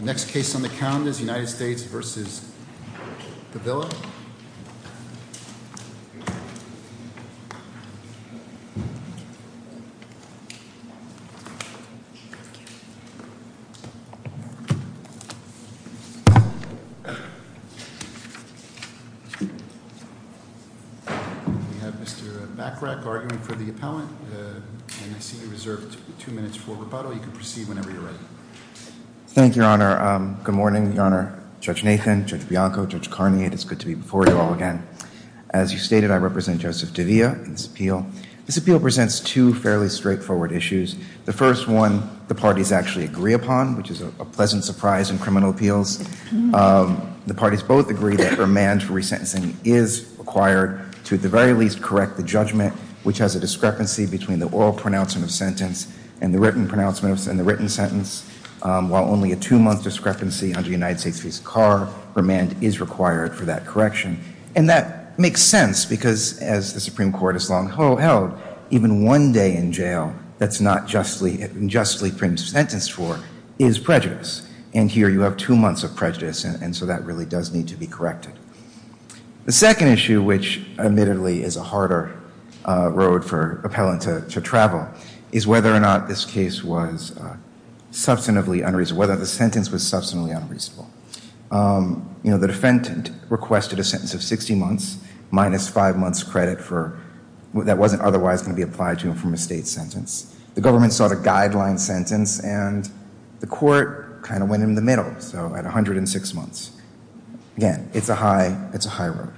We have Mr. Bachrach arguing for the appellant and I see you reserved two minutes for rebuttal. You can proceed whenever you're ready. Thank you, Your Honor. Good morning, Your Honor, Judge Nathan, Judge Bianco, Judge Carney, and it's good to be before you all again. As you stated, I represent Joseph Davila in this appeal. This appeal presents two fairly straightforward issues. The first one, the parties actually agree upon, which is a pleasant surprise in criminal appeals. The parties both agree that remand for resentencing is required to at the very least correct the judgment, which has a discrepancy between the oral pronouncement of sentence and the written pronouncements and the written sentence. While only a two month discrepancy under United States v. Carr, remand is required for that correction. And that makes sense because as the Supreme Court has long held, even one day in jail that's not justly and justly sentenced for is prejudice. And here you have two months of prejudice. And so that really does need to be corrected. The second issue, which admittedly is a harder road for an appellant to travel, is whether or not this case was substantively unreasonable, whether the sentence was substantively unreasonable. You know, the defendant requested a sentence of 60 months minus five months credit that wasn't otherwise going to be applied to him from a state sentence. The government saw the guideline sentence and the court kind of went in the middle, so at 106 months. Again, it's a high road.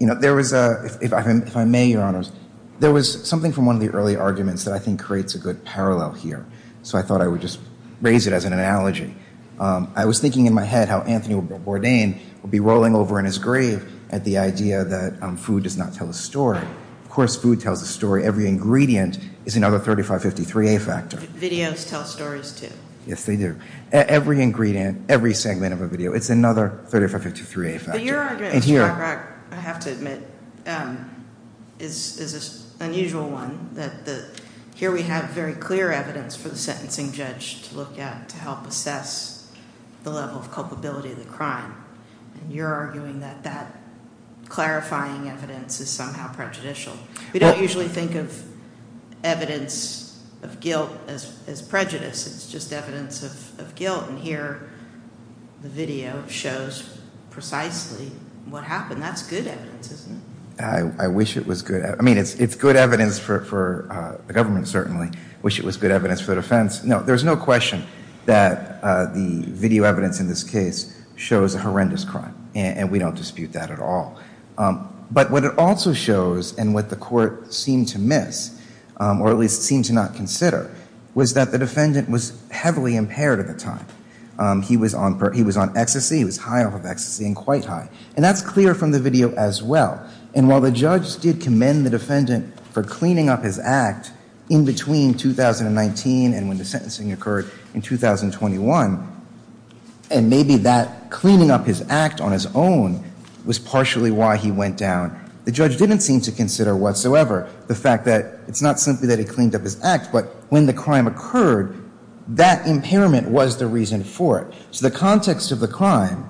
If I may, Your Honors, there was something from one of the early arguments that I think creates a good parallel here. So I thought I would just raise it as an analogy. I was thinking in my head how Anthony Bourdain would be rolling over in his grave at the idea that food does not tell a story. Of course, food tells a story. Every ingredient is another 3553A factor. Videos tell stories, too. Yes, they do. Every ingredient, every segment of a video, it's another 3553A factor. But your argument, Mr. Cockrock, I have to admit, is an unusual one. Here we have very clear evidence for the sentencing judge to look at to help assess the level of culpability of the crime, and you're arguing that that clarifying evidence is somehow prejudicial. We don't usually think of evidence of guilt as prejudice. It's just evidence of guilt, and here the video shows precisely what happened. That's good evidence, isn't it? I wish it was good. I mean, it's good evidence for the government, certainly. I wish it was good evidence for the defense. No, there's no question that the video evidence in this case shows a horrendous crime, and we don't dispute that at all. But what it also shows, and what the court seemed to miss, or at least seemed to not consider, was that the defendant was heavily impaired at the time. He was on ecstasy. He was high off of ecstasy and quite high, and that's clear from the video as well. And while the judge did commend the defendant for cleaning up his act in between 2019 and when the sentencing occurred in 2021, and maybe that cleaning up his act on his own was partially why he went down, the judge didn't seem to consider whatsoever the fact that it's not simply that he cleaned up his act, but when the crime occurred, that impairment was the reason for it. So the context of the crime,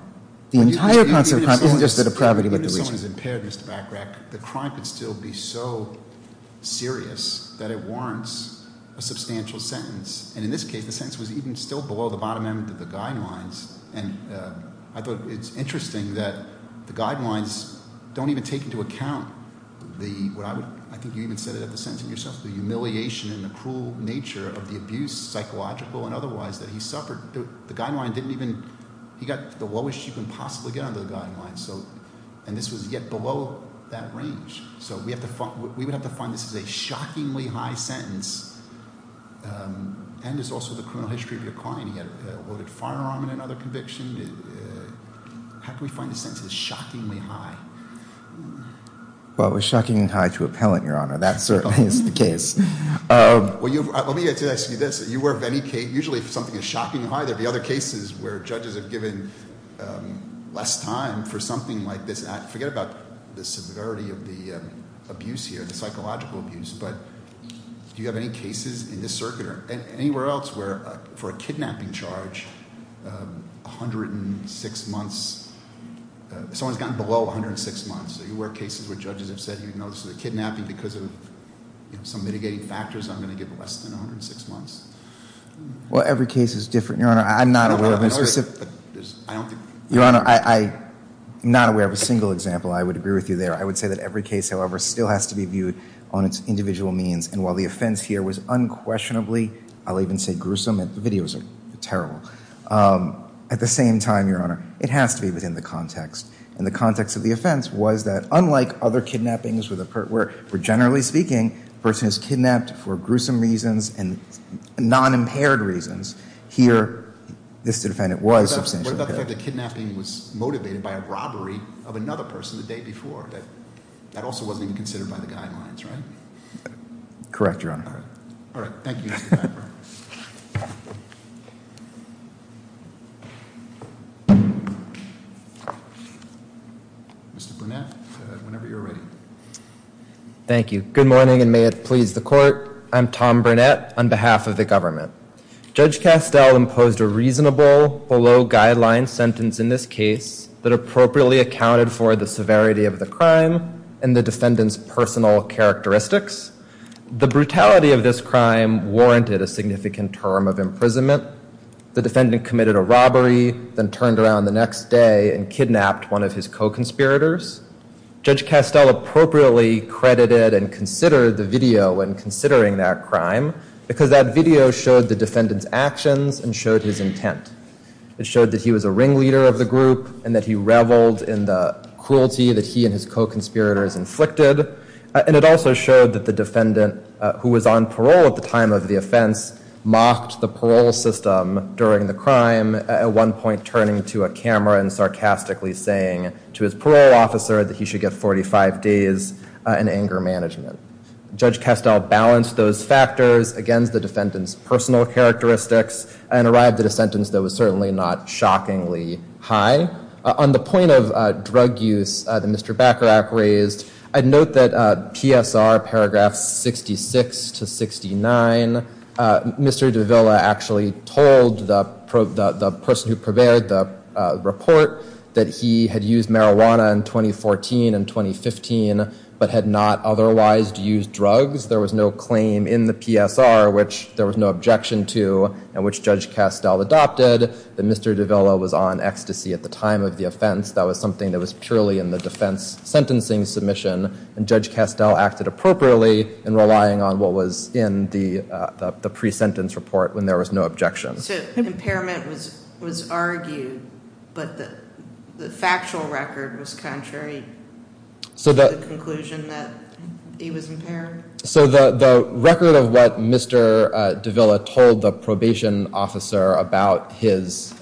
the entire concept of crime, isn't just the depravity but the reason. Even if someone is impaired, Mr. Bachrach, the crime could still be so serious that it warrants a substantial sentence. And in this case, the sentence was even still below the bottom end of the guidelines, and I thought it's interesting that the guidelines don't even take into account the, I think you even said it at the sentencing yourself, the humiliation and the cruel nature of the abuse, psychological and otherwise, that he suffered. The guideline didn't even, he got the lowest you can possibly get under the guideline, and this was yet below that range. So we would have to find this as a shockingly high sentence, and it's also the criminal history of your client. He had a loaded firearm in another conviction. How can we find a sentence that's shockingly high? Well, it was shockingly high to appellant, Your Honor. That certainly is the case. Well, let me ask you this. You were of any case, usually if something is shockingly high, there'd be other cases where judges have given less time for something like this. Forget about the severity of the abuse here, the psychological abuse, but do you have any cases in this circuit or anywhere else where for a kidnapping charge, 106 months, someone's gotten below 106 months. Are you aware of cases where judges have said, you know, this is a kidnapping because of some mitigating factors, I'm going to give less than 106 months? Well, every case is different, Your Honor. I'm not aware of a specific. I don't think. Your Honor, I'm not aware of a single example. I would agree with you there. I would say that every case, however, still has to be viewed on its individual means, and while the offense here was unquestionably, I'll even say gruesome, the videos are terrible, at the same time, Your Honor, it has to be within the context. And the context of the offense was that unlike other kidnappings where generally speaking, a person is kidnapped for gruesome reasons and non-impaired reasons, here, this defendant was substantially impaired. What about the fact that kidnapping was motivated by a robbery of another person the day before? That also wasn't even considered by the guidelines, right? Correct, Your Honor. All right. Thank you, Mr. Piper. Mr. Burnett, whenever you're ready. Thank you. Good morning, and may it please the Court. I'm Tom Burnett on behalf of the government. Judge Castell imposed a reasonable, below-guideline sentence in this case that appropriately accounted for the severity of the crime and the defendant's personal characteristics. The brutality of this crime warranted a significant term of imprisonment. The defendant committed a robbery, then turned around the next day and kidnapped one of his co-conspirators. Judge Castell appropriately credited and considered the video when considering that crime because that video showed the defendant's actions and showed his intent. It showed that he was a ringleader of the group and that he reveled in the cruelty that he and his co-conspirators inflicted, and it also showed that the defendant, who was on parole at the time of the offense, mocked the parole system during the crime, at one point turning to a camera and sarcastically saying to his parole officer that he should get 45 days in anger management. Judge Castell balanced those factors against the defendant's personal characteristics and arrived at a sentence that was certainly not shockingly high. On the point of drug use that Mr. Bacharach raised, I'd note that PSR paragraphs 66 to 69, Mr. Davila actually told the person who prepared the report that he had used marijuana in 2014 and 2015, but had not otherwise used drugs. There was no claim in the PSR, which there was no objection to, and which Judge Castell adopted, that Mr. Davila was on ecstasy at the time of the offense. That was something that was purely in the defense sentencing submission, and Judge Castell acted appropriately in relying on what was in the pre-sentence report when there was no objection. So impairment was argued, but the factual record was contrary to the conclusion that he was impaired? So the record of what Mr. Davila told the probation officer about his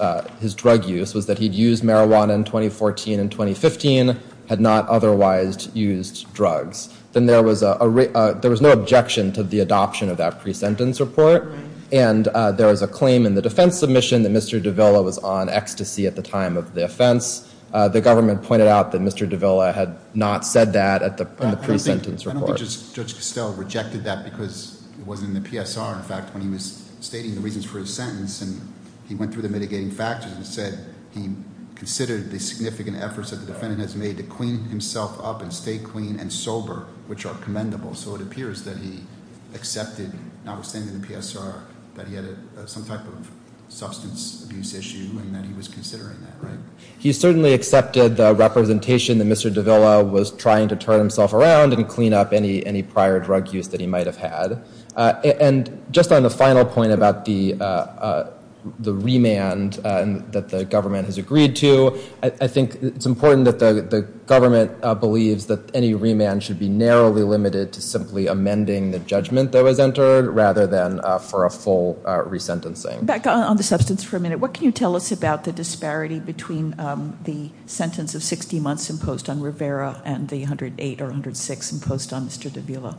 drug use was that he'd used marijuana in 2014 and 2015, had not otherwise used drugs. Then there was no objection to the adoption of that pre-sentence report, and there is a claim in the defense submission that Mr. Davila was on ecstasy at the time of the offense. The government pointed out that Mr. Davila had not said that in the pre-sentence report. I don't think Judge Castell rejected that because it wasn't in the PSR. In fact, when he was stating the reasons for his sentence and he went through the mitigating factors and said he considered the significant efforts that the defendant has made to clean himself up and stay clean and sober, which are commendable. So it appears that he accepted, notwithstanding the PSR, that he had some type of substance abuse issue and that he was considering that, right? He certainly accepted the representation that Mr. Davila was trying to turn himself around and clean up any prior drug use that he might have had. And just on the final point about the remand that the government has agreed to, I think it's important that the government believes that any remand should be narrowly limited to simply amending the judgment that was entered rather than for a full resentencing. Back on the substance for a minute. What can you tell us about the disparity between the sentence of 60 months imposed on Rivera and the 108 or 106 imposed on Mr. Davila?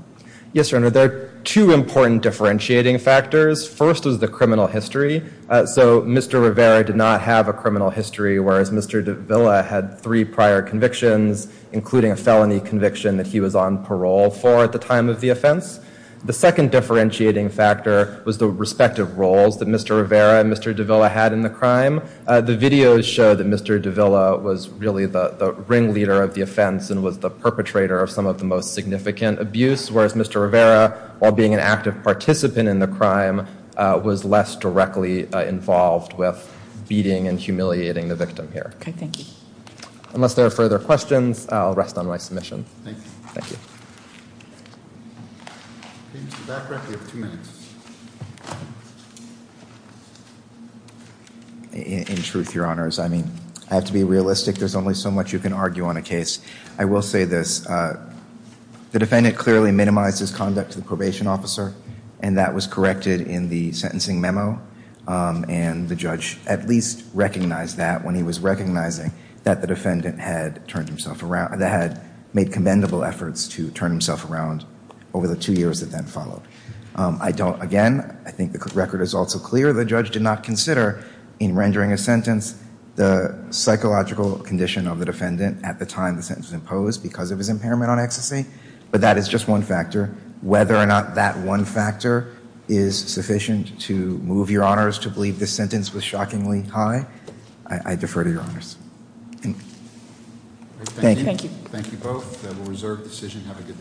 Yes, Your Honor. There are two important differentiating factors. First is the criminal history. So Mr. Rivera did not have a criminal history, whereas Mr. Davila had three prior convictions, including a felony conviction that he was on parole for at the time of the offense. The second differentiating factor was the respective roles that Mr. Rivera and Mr. Davila had in the crime. The videos show that Mr. Davila was really the ringleader of the offense and was the perpetrator of some of the most significant abuse, whereas Mr. Rivera, while being an active participant in the crime, was less directly involved with beating and humiliating the victim here. Okay, thank you. Unless there are further questions, I'll rest on my submission. Thank you. In truth, Your Honors, I mean, I have to be realistic. There's only so much you can argue on a case. I will say this. The defendant clearly minimized his conduct to the probation officer, and that was corrected in the sentencing memo, and the judge at least recognized that when he was recognizing that the defendant had made commendable efforts to turn himself around over the two years that then followed. Again, I think the record is also clear. The judge did not consider, in rendering his sentence, the psychological condition of the defendant at the time the sentence was imposed because of his impairment on ecstasy, but that is just one factor. Whether or not that one factor is sufficient to move Your Honors to believe this sentence was shockingly high, I defer to Your Honors. Thank you. Thank you both. We'll reserve the decision. Have a good day.